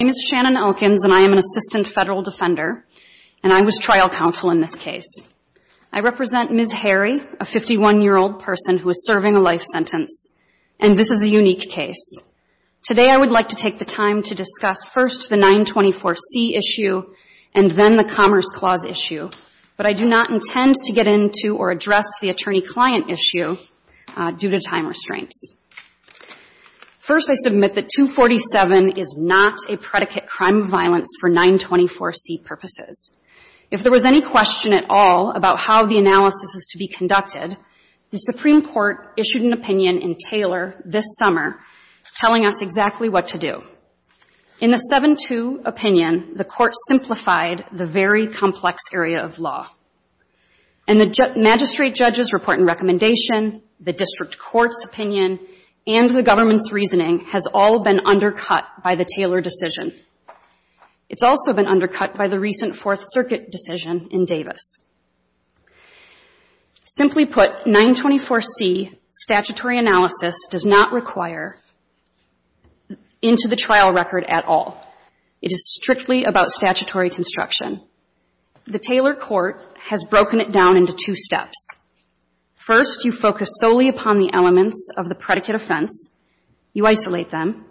My name is Shannon Elkins, and I am an assistant federal defender, and I was trial counsel in this case. I represent Ms. Hari, a 51-year-old person who is serving a life sentence, and this is a unique case. Today I would like to take the time to discuss first the 924C issue and then the Commerce Clause issue, but I do not intend to get into or address the attorney-client issue due to time restraints. First, I submit that 247 is not a predicate crime of violence for 924C purposes. If there was any question at all about how the analysis is to be conducted, the Supreme Court issued an opinion in Taylor this summer telling us exactly what to do. In the 7-2 opinion, the Court simplified the very complex area of law, and the magistrate judges' report and recommendation, the district court's opinion, and the government's reasoning has all been undercut by the Taylor decision. It's also been undercut by the recent Fourth Circuit decision in Davis. Simply put, 924C statutory analysis does not require into the trial record at all. It is strictly about statutory construction. The Taylor court has made it crystal clear that 924C is not a predicate offense. First, you focus solely upon the elements of the predicate offense, you isolate them,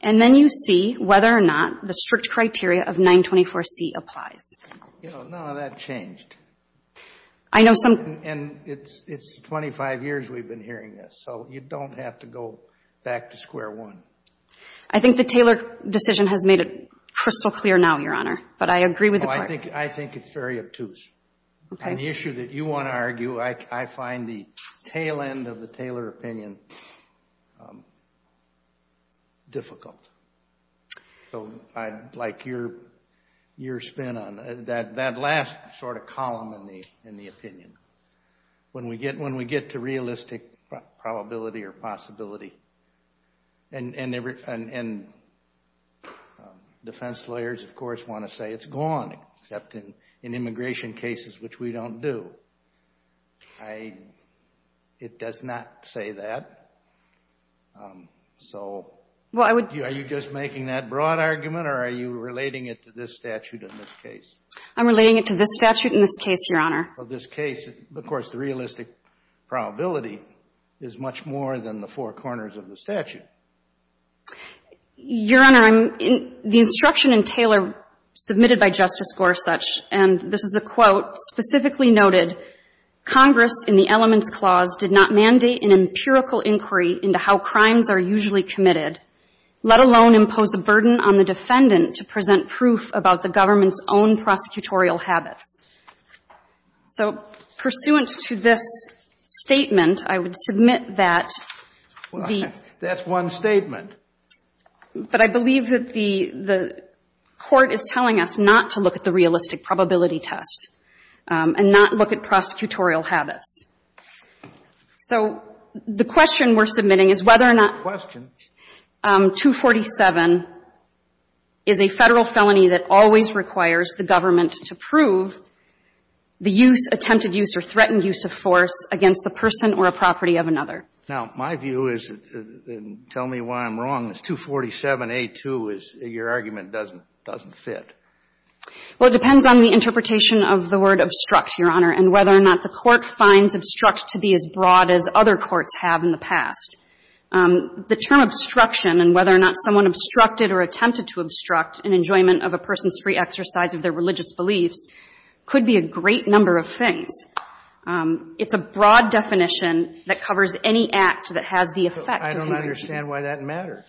and then you see whether or not the strict criteria of 924C applies. You know, none of that changed. I know some And it's 25 years we've been hearing this, so you don't have to go back to square one. I think the Taylor decision has made it crystal clear now, Your Honor, but I agree with the claim. I think it's very obtuse. Okay. And the issue that you want to argue, I find the tail end of the Taylor opinion difficult. So I'd like your spin on that. That last sort of column in the opinion, when we get to realistic probability or possibility, and defense lawyers, of course, want to say it's gone. It's gone except in immigration cases, which we don't do. It does not say that. So are you just making that broad argument, or are you relating it to this statute in this case? I'm relating it to this statute in this case, Your Honor. Well, this case, of course, the realistic probability is much more than the four corners of the statute. Your Honor, the instruction in Taylor submitted by Justice Gorsuch, and this is a quote, specifically noted, Congress in the Elements Clause did not mandate an empirical inquiry into how crimes are usually committed, let alone impose a burden on the defendant to present proof about the government's own prosecutorial habits. So pursuant to this statement, I would submit that the ---- That's one statement. But I believe that the Court is telling us not to look at the realistic probability test and not look at prosecutorial habits. So the question we're submitting is whether or not 247 is a Federal felony that always requires the government to prove the use, attempted use, or threatened use of force against the person or a property of another. Now, my view is, and tell me why I'm wrong, is 247A2, your argument, doesn't fit. Well, it depends on the interpretation of the word obstruct, Your Honor, and whether or not the Court finds obstruct to be as broad as other courts have in the past. The term obstruction and whether or not someone obstructed or attempted to obstruct an enjoyment of a person's free exercise of their religious beliefs could be a great number of things. It's a broad definition that covers any act that has the effect of ---- I don't understand why that matters.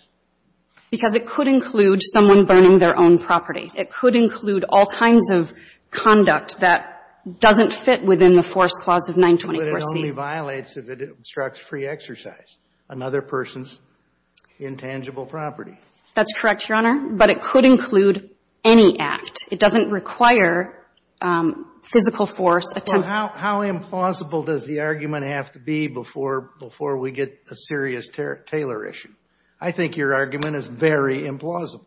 Because it could include someone burning their own property. It could include all kinds of conduct that doesn't fit within the force clause of 924C. But it only violates if it obstructs free exercise, another person's intangible property. That's correct, Your Honor. But it could include any act. It doesn't require physical force. Well, how implausible does the argument have to be before we get a serious Taylor issue? I think your argument is very implausible.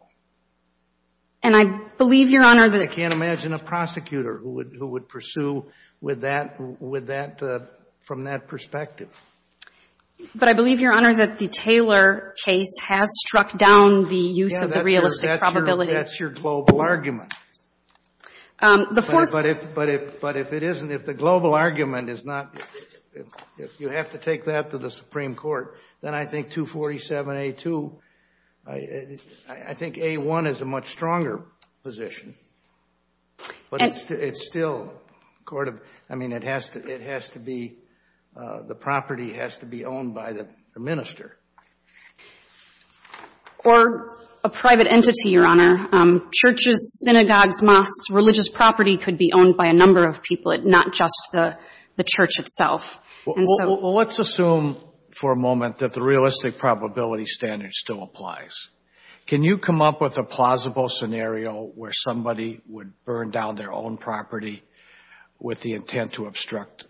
And I believe, Your Honor, that ---- I can't imagine a prosecutor who would pursue with that, from that perspective. But I believe, Your Honor, that the Taylor case has struck down the use of the realistic probability. That's your global argument. But if it isn't, if the global argument is not ---- if you have to take that to the Supreme Court, then I think 247A2, I think A1 is a much stronger position. But it's still court of ---- I mean, it has to be ---- the property has to be owned by the minister. Or a private entity, Your Honor. Churches, synagogues, mosques, religious property could be owned by a number of people, not just the church itself. Well, let's assume for a moment that the realistic probability standard still applies. Can you come up with a plausible scenario where somebody would burn down their own property with the intent to obstruct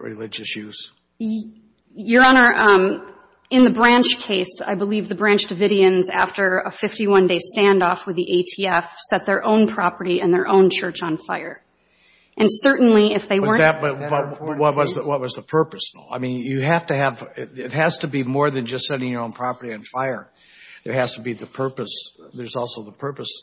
religious use? Your Honor, in the Branch case, I believe the Branch Davidians, after a 51-day standoff with the ATF, set their own property and their own church on fire. And certainly, if they weren't ---- But what was the purpose? I mean, you have to have ---- it has to be more than just setting your own property on fire. It has to be the purpose. There's also the purpose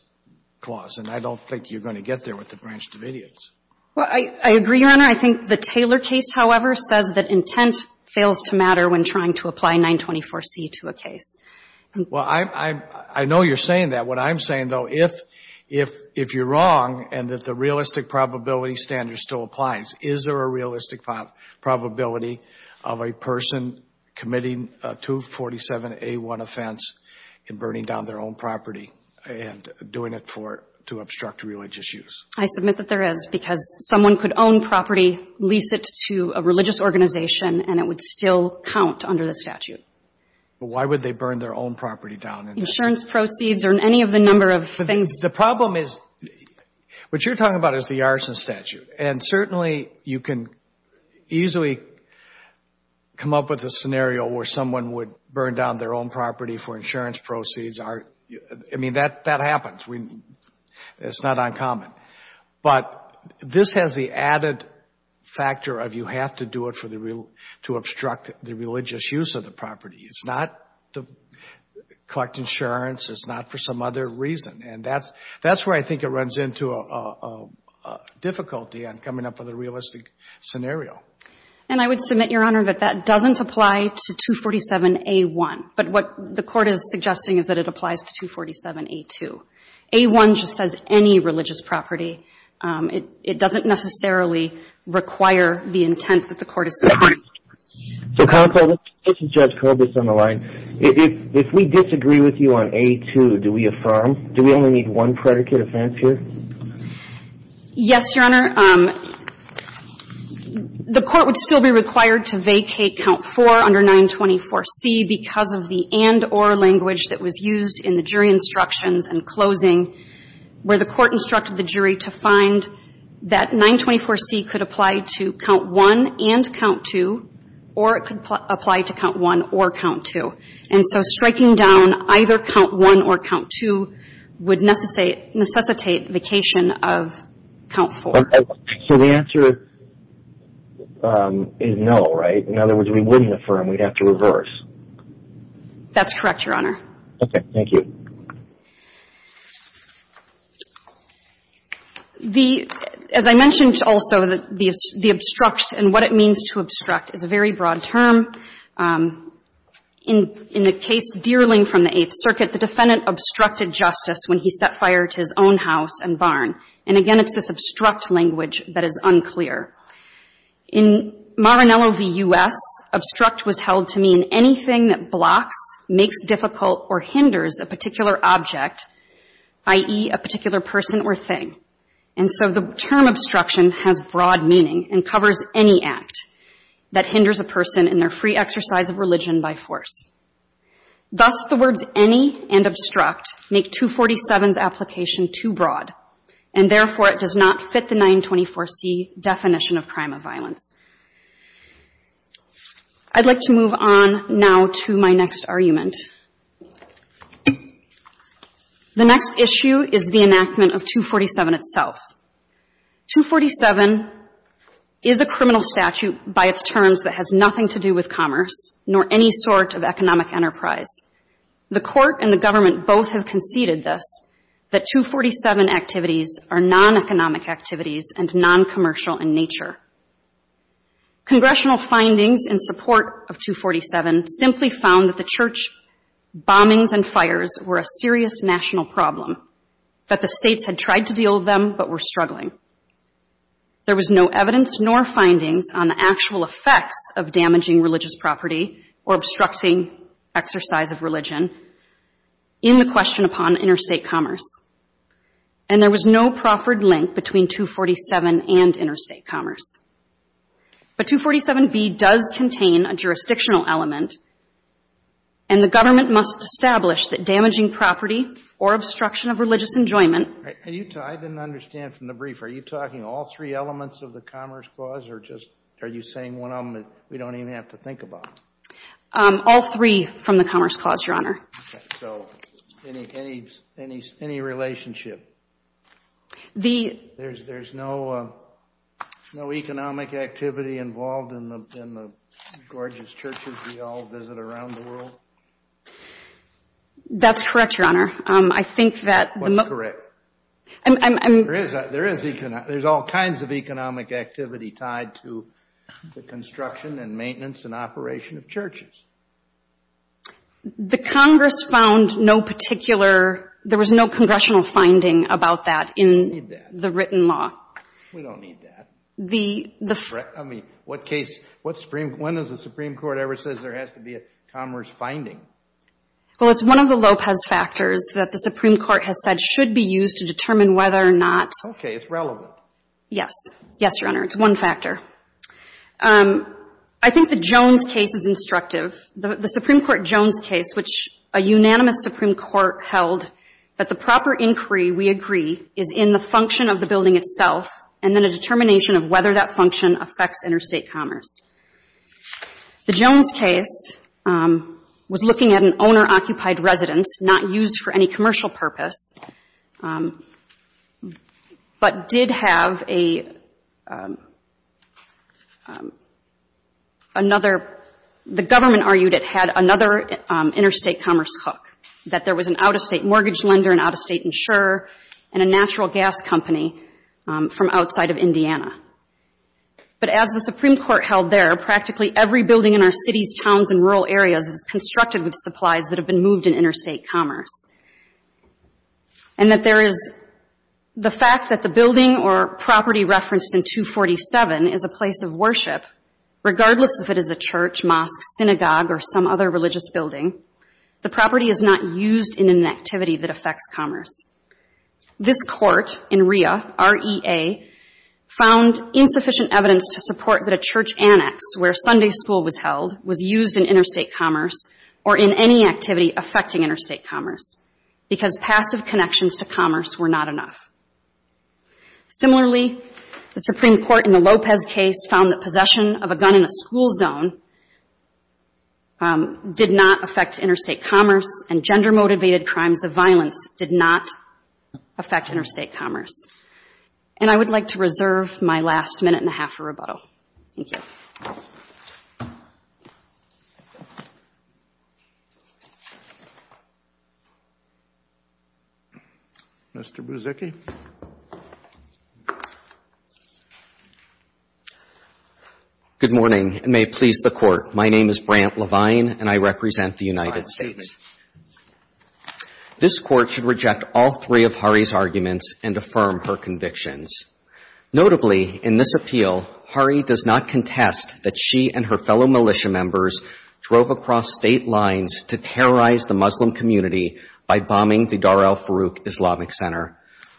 clause. And I don't think you're going to get there with the Branch Davidians. Well, I agree, Your Honor. I think the Taylor case, however, says that intent fails to matter when trying to apply 924C to a case. Well, I know you're saying that. What I'm saying, though, if you're wrong and that the realistic probability standard still applies, is there a realistic probability of a person committing a 247A1 offense in burning down their own property and doing it for ---- to obstruct religious use? I submit that there is, because someone could own property, lease it to a religious organization, and it would still count under the statute. But why would they burn their own property down? Insurance proceeds or any of the number of things ---- The problem is, what you're talking about is the Arson Statute. And certainly, you can easily come up with a scenario where someone would burn down their own property for insurance proceeds. I mean, that happens. It's not uncommon. But this has the added factor of you have to do it for the real ---- to obstruct the religious use of the property. It's not to collect insurance. It's not for some other reason. And that's where I think it runs into a difficulty on coming up with a realistic scenario. And I would submit, Your Honor, that that doesn't apply to 247A1. But what the Court is suggesting is that it applies to 247A2. 247A1 just says any religious property. It doesn't necessarily require the intent that the Court is suggesting. So, Counsel, this is Judge Corbis on the line. If we disagree with you on 247A2, do we affirm, do we only need one predicate offense here? Yes, Your Honor. The Court would still be required to vacate count 4 under 924C because of the and-or language that was used in the jury instructions in closing where the Court instructed the jury to find that 924C could apply to count 1 and count 2, or it could apply to count 1 or count 2. And so striking down either count 1 or count 2 would necessitate vacation of count 4. So the answer is no, right? In other words, we wouldn't affirm. We'd have to reverse. That's correct, Your Honor. Okay. Thank you. The as I mentioned also, the obstruct and what it means to obstruct is a very broad term. In the case Deerling from the Eighth Circuit, the defendant obstructed justice when he set fire to his own house and barn. And again, it's this obstruct language that is unclear. In Maranello v. U.S., obstruct was held to mean anything that blocks, makes difficult or hinders a particular object, i.e., a particular person or thing. And so the term obstruction has broad meaning and covers any act that hinders a person in their free exercise of religion by force. Thus, the words any and obstruct make 247's application too broad, and therefore it does not fit the 924C definition of crime of violence. I'd like to move on now to my next argument. The next issue is the enactment of 247 itself. 247 is a criminal statute by its terms that has nothing to do with commerce nor any sort of economic enterprise. The court and the government both have conceded this, that 247 activities are non-economic activities and non-commercial in nature. Congressional findings in support of 247 simply found that the church bombings and fires were a serious national problem, that the states had tried to deal with them but were struggling. There was no evidence nor findings on the actual effects of damaging religious property or obstructing exercise of religion in the question upon interstate commerce. And there was no proffered link between 247 and interstate commerce. But 247B does contain a jurisdictional element, and the government must establish that damaging property or obstruction of religious enjoyment — I didn't understand from the brief. Are you talking all three elements of the Commerce Clause, or just are you saying one of them that we don't even have to think about? All three from the Commerce Clause, Your Honor. Okay. So any relationship? There's no economic activity involved in the gorgeous churches we all visit around the world? That's correct, Your Honor. I think that — What's correct? There is economic — there's all kinds of economic activity tied to the construction and maintenance and operation of churches. The Congress found no particular — there was no congressional finding about that in the written law. We don't need that. We don't need that. I mean, what case — when does the Supreme Court ever say there has to be a commerce finding? Well, it's one of the Lopez factors that the Supreme Court has said should be used to determine whether or not — Okay. It's relevant. Yes. Yes, Your Honor. It's one factor. I think the Jones case is instructive. The Supreme Court Jones case, which a unanimous Supreme Court held that the proper inquiry, we agree, is in the function of the building itself and then a determination of whether that function affects interstate commerce. The Jones case was looking at an owner-occupied residence not used for any commercial purpose, but did have another — the government argued it had another interstate commerce hook, that there was an out-of-state mortgage lender, an out-of-state insurer, and a natural gas company from outside of Indiana. But as the Supreme Court held there, practically every building in our cities, towns, and rural areas is constructed with supplies that have been moved in interstate commerce. And that there is — the fact that the building or property referenced in 247 is a place of worship, regardless if it is a church, mosque, synagogue, or some other religious building, the property is not used in an activity that affects commerce. This court in REA, R-E-A, found insufficient evidence to support that a church annex where Sunday school was held was used in interstate commerce or in any activity affecting interstate commerce, because passive connections to commerce were not enough. Similarly, the Supreme Court in the Lopez case found that possession of a gun in a school zone did not affect interstate commerce, and gender-motivated crimes of violence did not affect interstate commerce. And I would like to reserve my last minute and a half for rebuttal. Thank you. Mr. Buzicki. Good morning, and may it please the Court. My name is Brant Levine, and I represent the United States. This Court should reject all three of Hari's arguments and affirm her convictions. Notably, in this appeal, Hari does not contest that she and her fellow militia members drove across state lines to terrorize the Muslim community by bombing the Dar al-Farouk Islamic Center.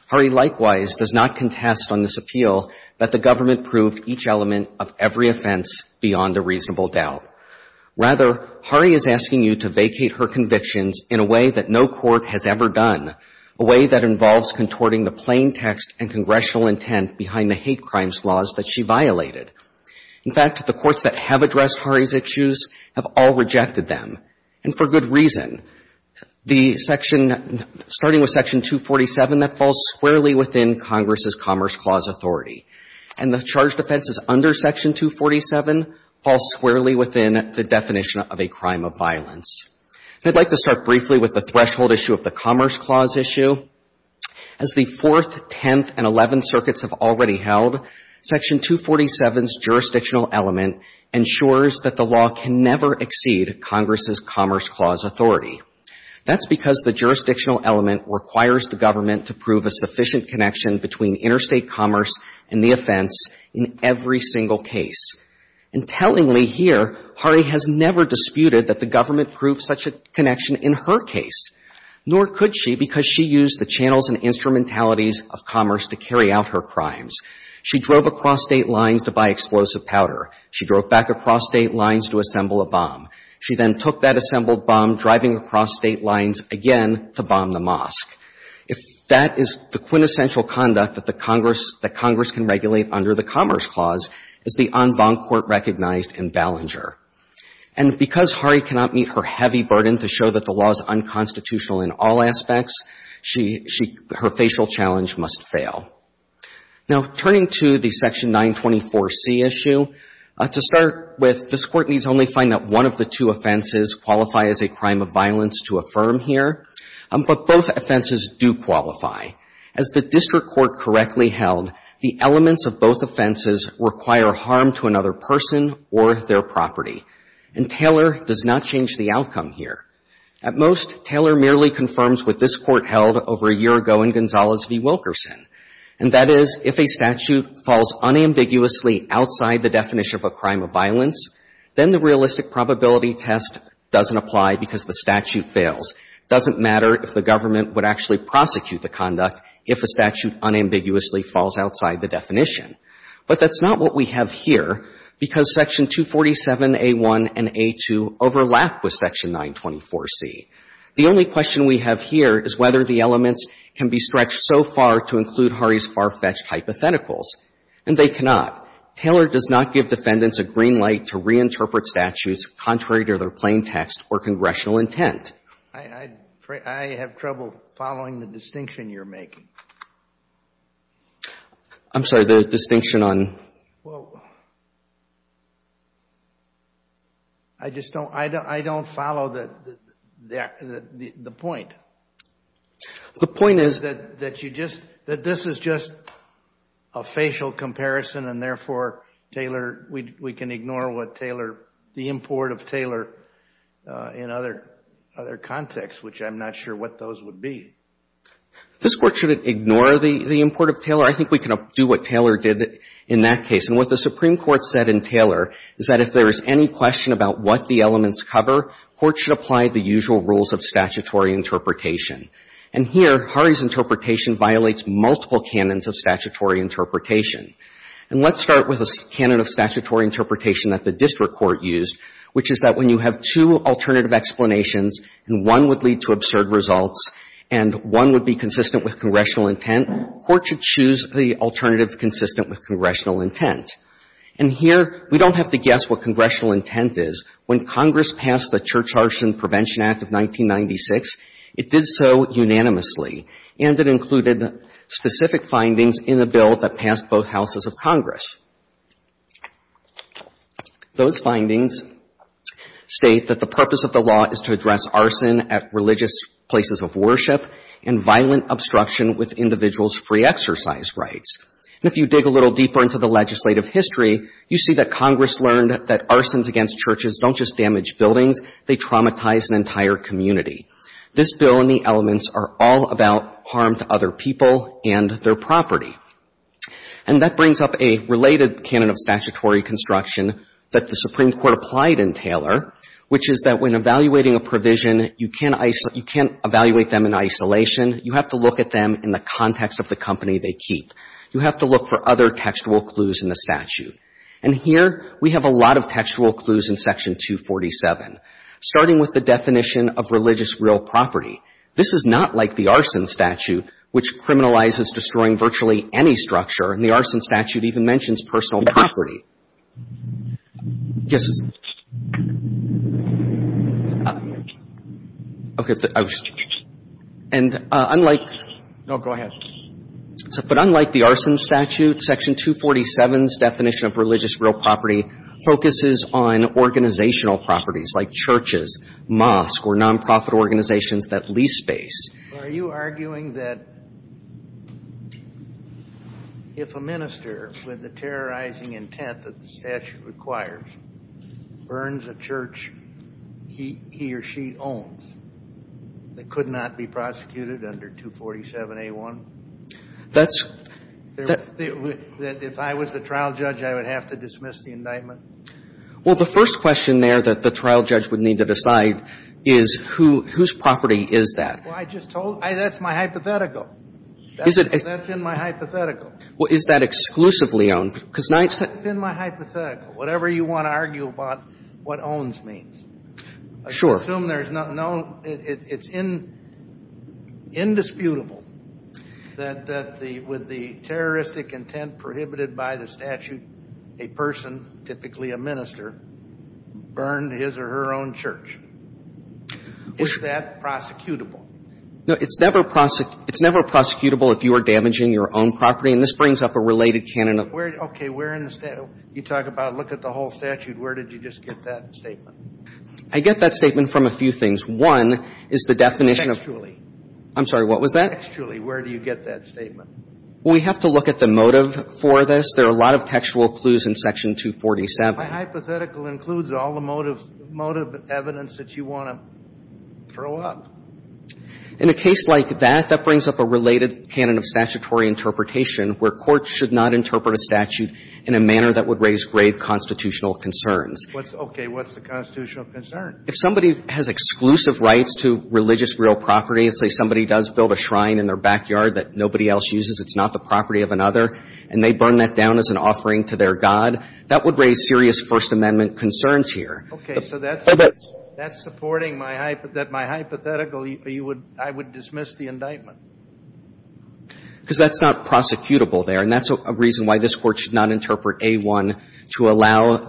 Hari likewise does not contest on this appeal that the government proved each element of every offense beyond a reasonable doubt. Rather, Hari is asking you to vacate her convictions in a way that no court has ever done, a way that involves contorting the plain text and congressional intent behind the hate crimes laws that she violated. In fact, the courts that have addressed Hari's issues have all rejected them, and for good reason. The section, starting with Section 247, that falls squarely within Congress's Commerce Clause authority. And the charged offenses under Section 247 fall squarely within the definition of a crime of violence. I'd like to start briefly with the threshold issue of the Commerce Clause issue. As the Fourth, Tenth, and Eleventh Circuits have already held, Section 247's jurisdictional element ensures that the law can never exceed Congress's Commerce Clause authority. That's because the jurisdictional element requires the government to prove a sufficient connection between interstate commerce and the offense in every single case. And tellingly here, Hari has never disputed that the government proved such a connection in her case, nor could she because she used the channels and instrumentalities of commerce to carry out her crimes. She drove across state lines to buy explosive powder. She drove back across state lines to assemble a bomb. She then took that assembled bomb, driving across state lines again to bomb the mosque. If that is the quintessential conduct that the Congress, that Congress can regulate under the Commerce Clause, it's the en banc court recognized in Ballenger. And because Hari cannot meet her heavy burden to show that the law is unconstitutional in all aspects, she, her facial challenge must fail. Now, turning to the Section 924C issue, to start with, this Court needs only find that one of the two offenses qualify as a crime of violence to affirm here, but both offenses do qualify. As the district court correctly held, the elements of both offenses require harm to another person or their property. And Taylor does not change the outcome here. At most, Taylor merely confirms what this Court held over a year ago in Gonzales v. Wilkerson, and that is if a statute falls unambiguously outside the definition of a crime of violence, then the realistic probability test doesn't apply because the statute fails. It doesn't matter if the government would actually prosecute the conduct if a statute unambiguously falls outside the definition. But that's not what we have here because Section 247A1 and A2 overlap with Section 924C. The only question we have here is whether the elements can be stretched so far to include Hari's far-fetched hypotheticals, and they cannot. Taylor does not give defendants a green light to reinterpret statutes contrary to their plain text or congressional intent. I have trouble following the distinction you're making. I'm sorry, the distinction on? I don't follow the point. The point is that this is just a facial comparison, and therefore, Taylor, we can ignore what Taylor, the import of Taylor, in other contexts, which I'm not sure what those would be. This Court shouldn't ignore the import of Taylor. I think we can do what Taylor did in that case. And what the Supreme Court said in Taylor is that if there is any question about what the elements cover, court should apply the usual rules of statutory interpretation. And here, Hari's interpretation violates multiple canons of statutory interpretation. And let's start with a canon of statutory interpretation that the district court used, which is that when you have two alternative explanations and one would lead to absurd results and one would be consistent with congressional intent, court should choose the alternative consistent with congressional intent. And here, we don't have to guess what congressional intent is. When Congress passed the Church Arson Prevention Act of 1996, it did so unanimously, and it included specific findings in a bill that passed both houses of Congress. Those findings state that the purpose of the law is to address arson at religious places of worship and violent obstruction with individuals' free exercise rights. And if you dig a little deeper into the legislative history, you see that Congress learned that arsons against churches don't just damage buildings, they traumatize an entire community. This bill and the elements are all about harm to other people and their property. And that brings up a related canon of statutory construction that the Supreme Court applied in Taylor, which is that when evaluating a provision, you can't isolate them in isolation. You have to look at them in the context of the company they keep. You have to look for other textual clues in the statute. And here, we have a lot of textual clues in Section 247, starting with the definition of religious real property. This is not like the arson statute, which criminalizes destroying virtually any structure, and the arson statute even mentions personal property. Yes, sir. Okay. And unlike... No, go ahead. But unlike the arson statute, Section 247's definition of religious real property focuses on organizational properties like churches, mosques, or nonprofit organizations that lease space. Are you arguing that if a minister, with the terrorizing intent that the statute requires, burns a church he or she owns that could not be prosecuted under 247A1? That's... That if I was the trial judge, I would have to dismiss the indictment? Well, the first question there that the trial judge would need to decide is whose property is that? Well, I just told you. That's my hypothetical. That's in my hypothetical. Is that exclusively owned? That's in my hypothetical, whatever you want to argue about what owns means. Sure. I assume there's no... It's indisputable that with the terroristic intent prohibited by the statute, a person, typically a minister, burned his or her own church. Is that prosecutable? No. It's never prosecutable if you are damaging your own property. And this brings up a related canon of... Okay. You talk about look at the whole statute. Where did you just get that statement? I get that statement from a few things. One is the definition of... Textually. I'm sorry. What was that? Textually. Where do you get that statement? Well, we have to look at the motive for this. There are a lot of textual clues in Section 247. My hypothetical includes all the motive evidence that you want to throw up. In a case like that, that brings up a related canon of statutory interpretation where courts should not interpret a statute in a manner that would raise grave constitutional concerns. Okay. What's the constitutional concern? If somebody has exclusive rights to religious real property, say somebody does build a shrine in their backyard that nobody else uses, it's not the property of another, and they burn that down as an offering to their god, that would raise serious First Amendment concerns here. Okay. So that's supporting my hypothetical. I would dismiss the indictment. Because that's not prosecutable there, and that's a reason why this Court should not interpret A1 to allow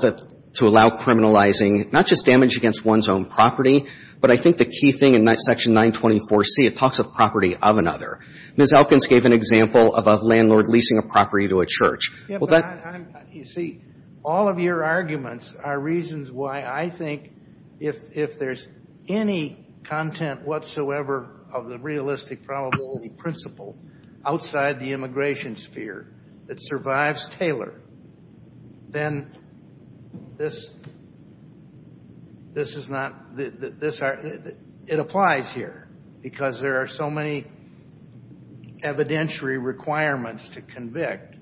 criminalizing not just damage against one's own property, but I think the key thing in Section 924C, it talks of property of another. You see, all of your arguments are reasons why I think if there's any content whatsoever of the realistic probability principle outside the immigration sphere that survives Taylor, then this is not, it applies here, because there are so many evidentiary requirements to convict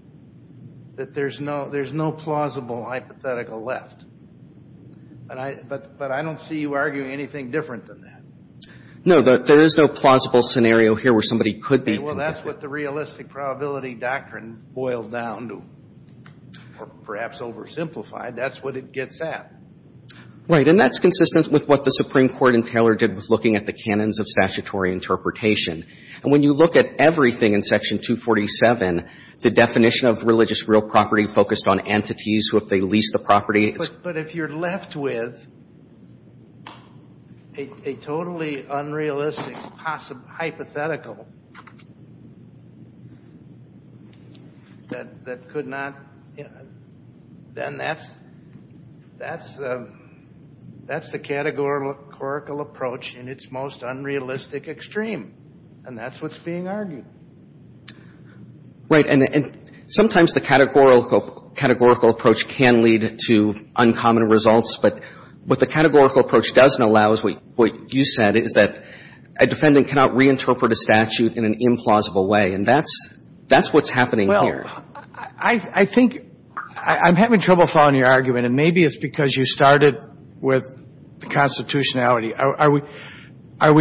that there's no plausible hypothetical left. But I don't see you arguing anything different than that. No, there is no plausible scenario here where somebody could be convicted. Well, that's what the realistic probability doctrine boiled down to, or perhaps oversimplified, that's what it gets at. Right, and that's consistent with what the Supreme Court in Taylor did with looking at the canons of statutory interpretation. And when you look at everything in Section 247, the definition of religious real property focused on entities who, if they lease the property. But if you're left with a totally unrealistic hypothetical that could not, then that's the categorical approach in its most unrealistic extreme. And that's what's being argued. Right. And sometimes the categorical approach can lead to uncommon results. But what the categorical approach doesn't allow is what you said, is that a defendant cannot reinterpret a statute in an implausible way. And that's what's happening here. Well, I think I'm having trouble following your argument, and maybe it's because you started with the constitutionality. Are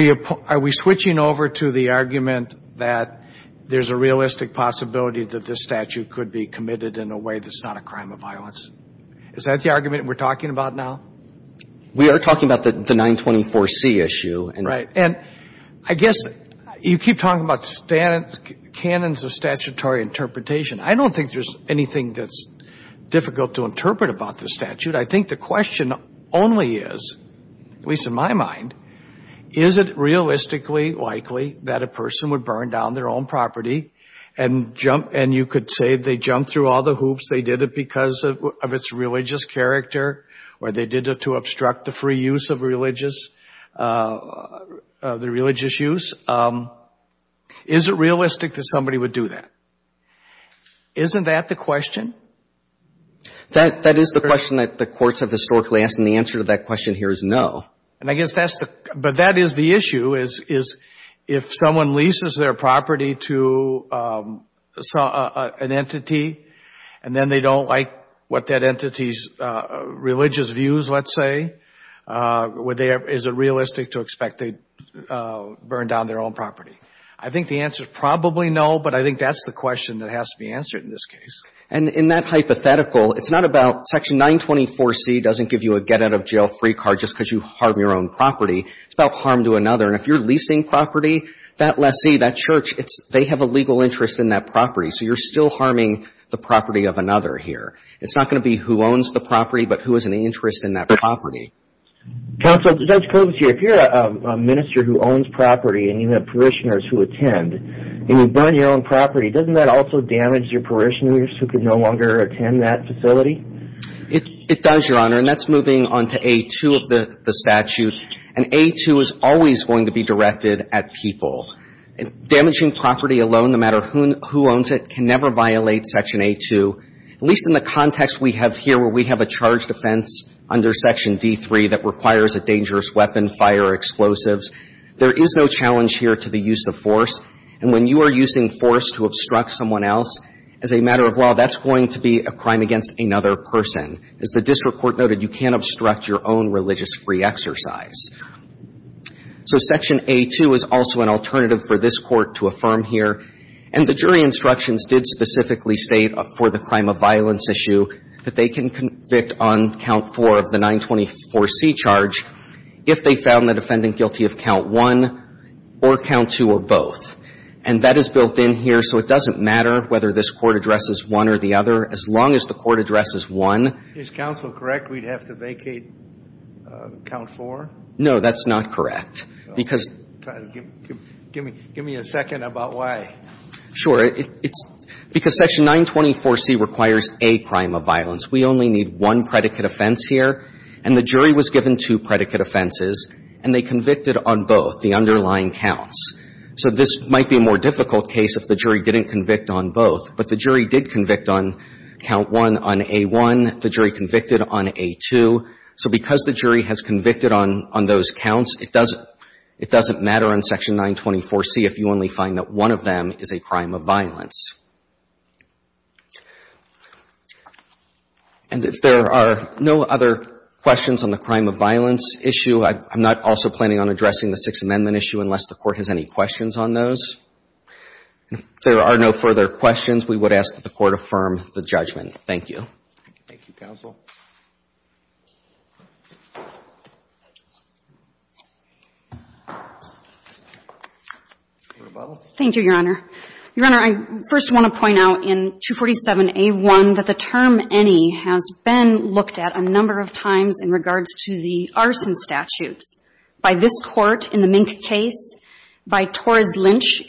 we switching over to the argument that there's a realistic possibility that this statute could be committed in a way that's not a crime of violence? Is that the argument we're talking about now? We are talking about the 924C issue. Right. And I guess you keep talking about canons of statutory interpretation. I don't think there's anything that's difficult to interpret about the statute. I think the question only is, at least in my mind, is it realistically likely that a person would burn down their own property and you could say they jumped through all the hoops, they did it because of its religious character, or they did it to obstruct the free use of religious use. Is it realistic that somebody would do that? Isn't that the question? That is the question that the courts have historically asked, and the answer to that question here is no. But that is the issue, is if someone leases their property to an entity and then they don't like what that entity's religious views, let's say, is it realistic to expect they'd burn down their own property? I think the answer is probably no, but I think that's the question that has to be answered in this case. And in that hypothetical, it's not about Section 924C doesn't give you a get-out-of-jail-free card just because you harm your own property. It's about harm to another. And if you're leasing property, that lessee, that church, they have a legal interest in that property, so you're still harming the property of another here. It's not going to be who owns the property, but who has an interest in that property. Counsel, Judge Kovacs here, if you're a minister who owns property and you have parishioners who attend and you burn your own property, doesn't that also damage your parishioners who can no longer attend that facility? It does, Your Honor, and that's moving on to A2 of the statute. And A2 is always going to be directed at people. Damaging property alone, no matter who owns it, can never violate Section A2, at least in the context we have here where we have a charged offense under Section D3 that requires a dangerous weapon, fire, or explosives. There is no challenge here to the use of force. And when you are using force to obstruct someone else, as a matter of law, that's going to be a crime against another person. As the district court noted, you can't obstruct your own religious free exercise. So Section A2 is also an alternative for this Court to affirm here. And the jury instructions did specifically state for the crime of violence issue that they can convict on count four of the 924C charge if they found the defendant guilty of count one or count two or both. And that is built in here, so it doesn't matter whether this Court addresses one or the other, as long as the Court addresses one. Is counsel correct we'd have to vacate count four? No, that's not correct. Give me a second about why. Sure. Because Section 924C requires a crime of violence. We only need one predicate offense here. And the jury was given two predicate offenses, and they convicted on both, the underlying counts. So this might be a more difficult case if the jury didn't convict on both. But the jury did convict on count one on A1. The jury convicted on A2. So because the jury has convicted on those counts, it doesn't matter on Section 924C if you only find that one of them is a crime of violence. And if there are no other questions on the crime of violence issue, I'm not also planning on addressing the Sixth Amendment issue unless the Court has any questions on those. If there are no further questions, we would ask that the Court affirm the judgment. Thank you. Thank you, counsel. Thank you, Your Honor. Your Honor, I first want to point out in 247A1 that the term any has been looked at a number of times in regards to the arson statutes, by this Court in the Mink case, by Torres-Lynch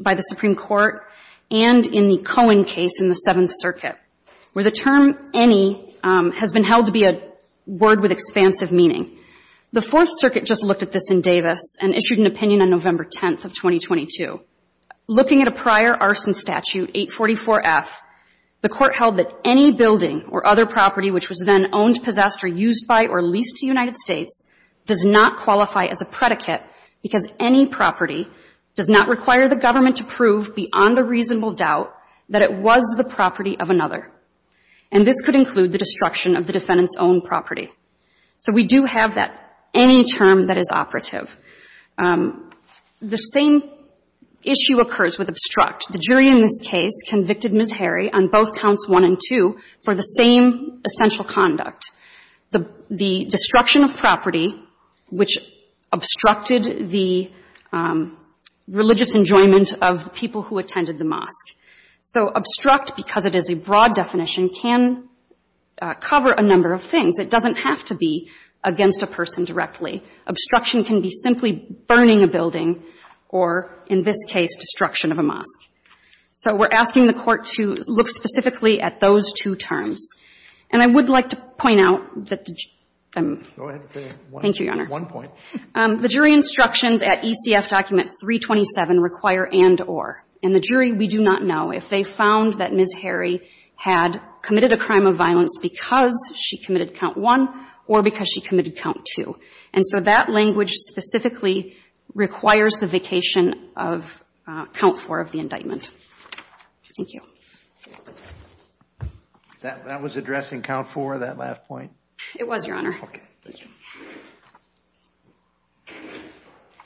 by the Supreme Court, and in the Cohen case in the Seventh Circuit, where the term any has been held to be a word with expansive meaning. The Fourth Circuit just looked at this in Davis and issued an opinion on November 10th of 2022. Looking at a prior arson statute, 844F, the Court held that any building or other property which was then owned, possessed or used by or leased to the United States does not qualify as a predicate because any property does not require the government to prove beyond a reasonable doubt that it was the property of another. And this could include the destruction of the defendant's own property. So we do have that any term that is operative. The same issue occurs with obstruct. The jury in this case convicted Ms. Harry on both counts one and two for the same essential conduct, the destruction of property which obstructed the religious enjoyment of people who attended the mosque. So obstruct, because it is a broad definition, can cover a number of things. It doesn't have to be against a person directly. Obstruction can be simply burning a building or, in this case, destruction of a mosque. So we're asking the Court to look specifically at those two terms. And I would like to point out that the jury – Go ahead. Thank you, Your Honor. One point. The jury instructions at ECF Document 327 require and or. And the jury, we do not know if they found that Ms. Harry had committed a crime of violence because she committed count one or because she committed count two. And so that language specifically requires the vacation of count four of the indictment. Thank you. That was addressing count four, that last point? It was, Your Honor. Okay. Thank you.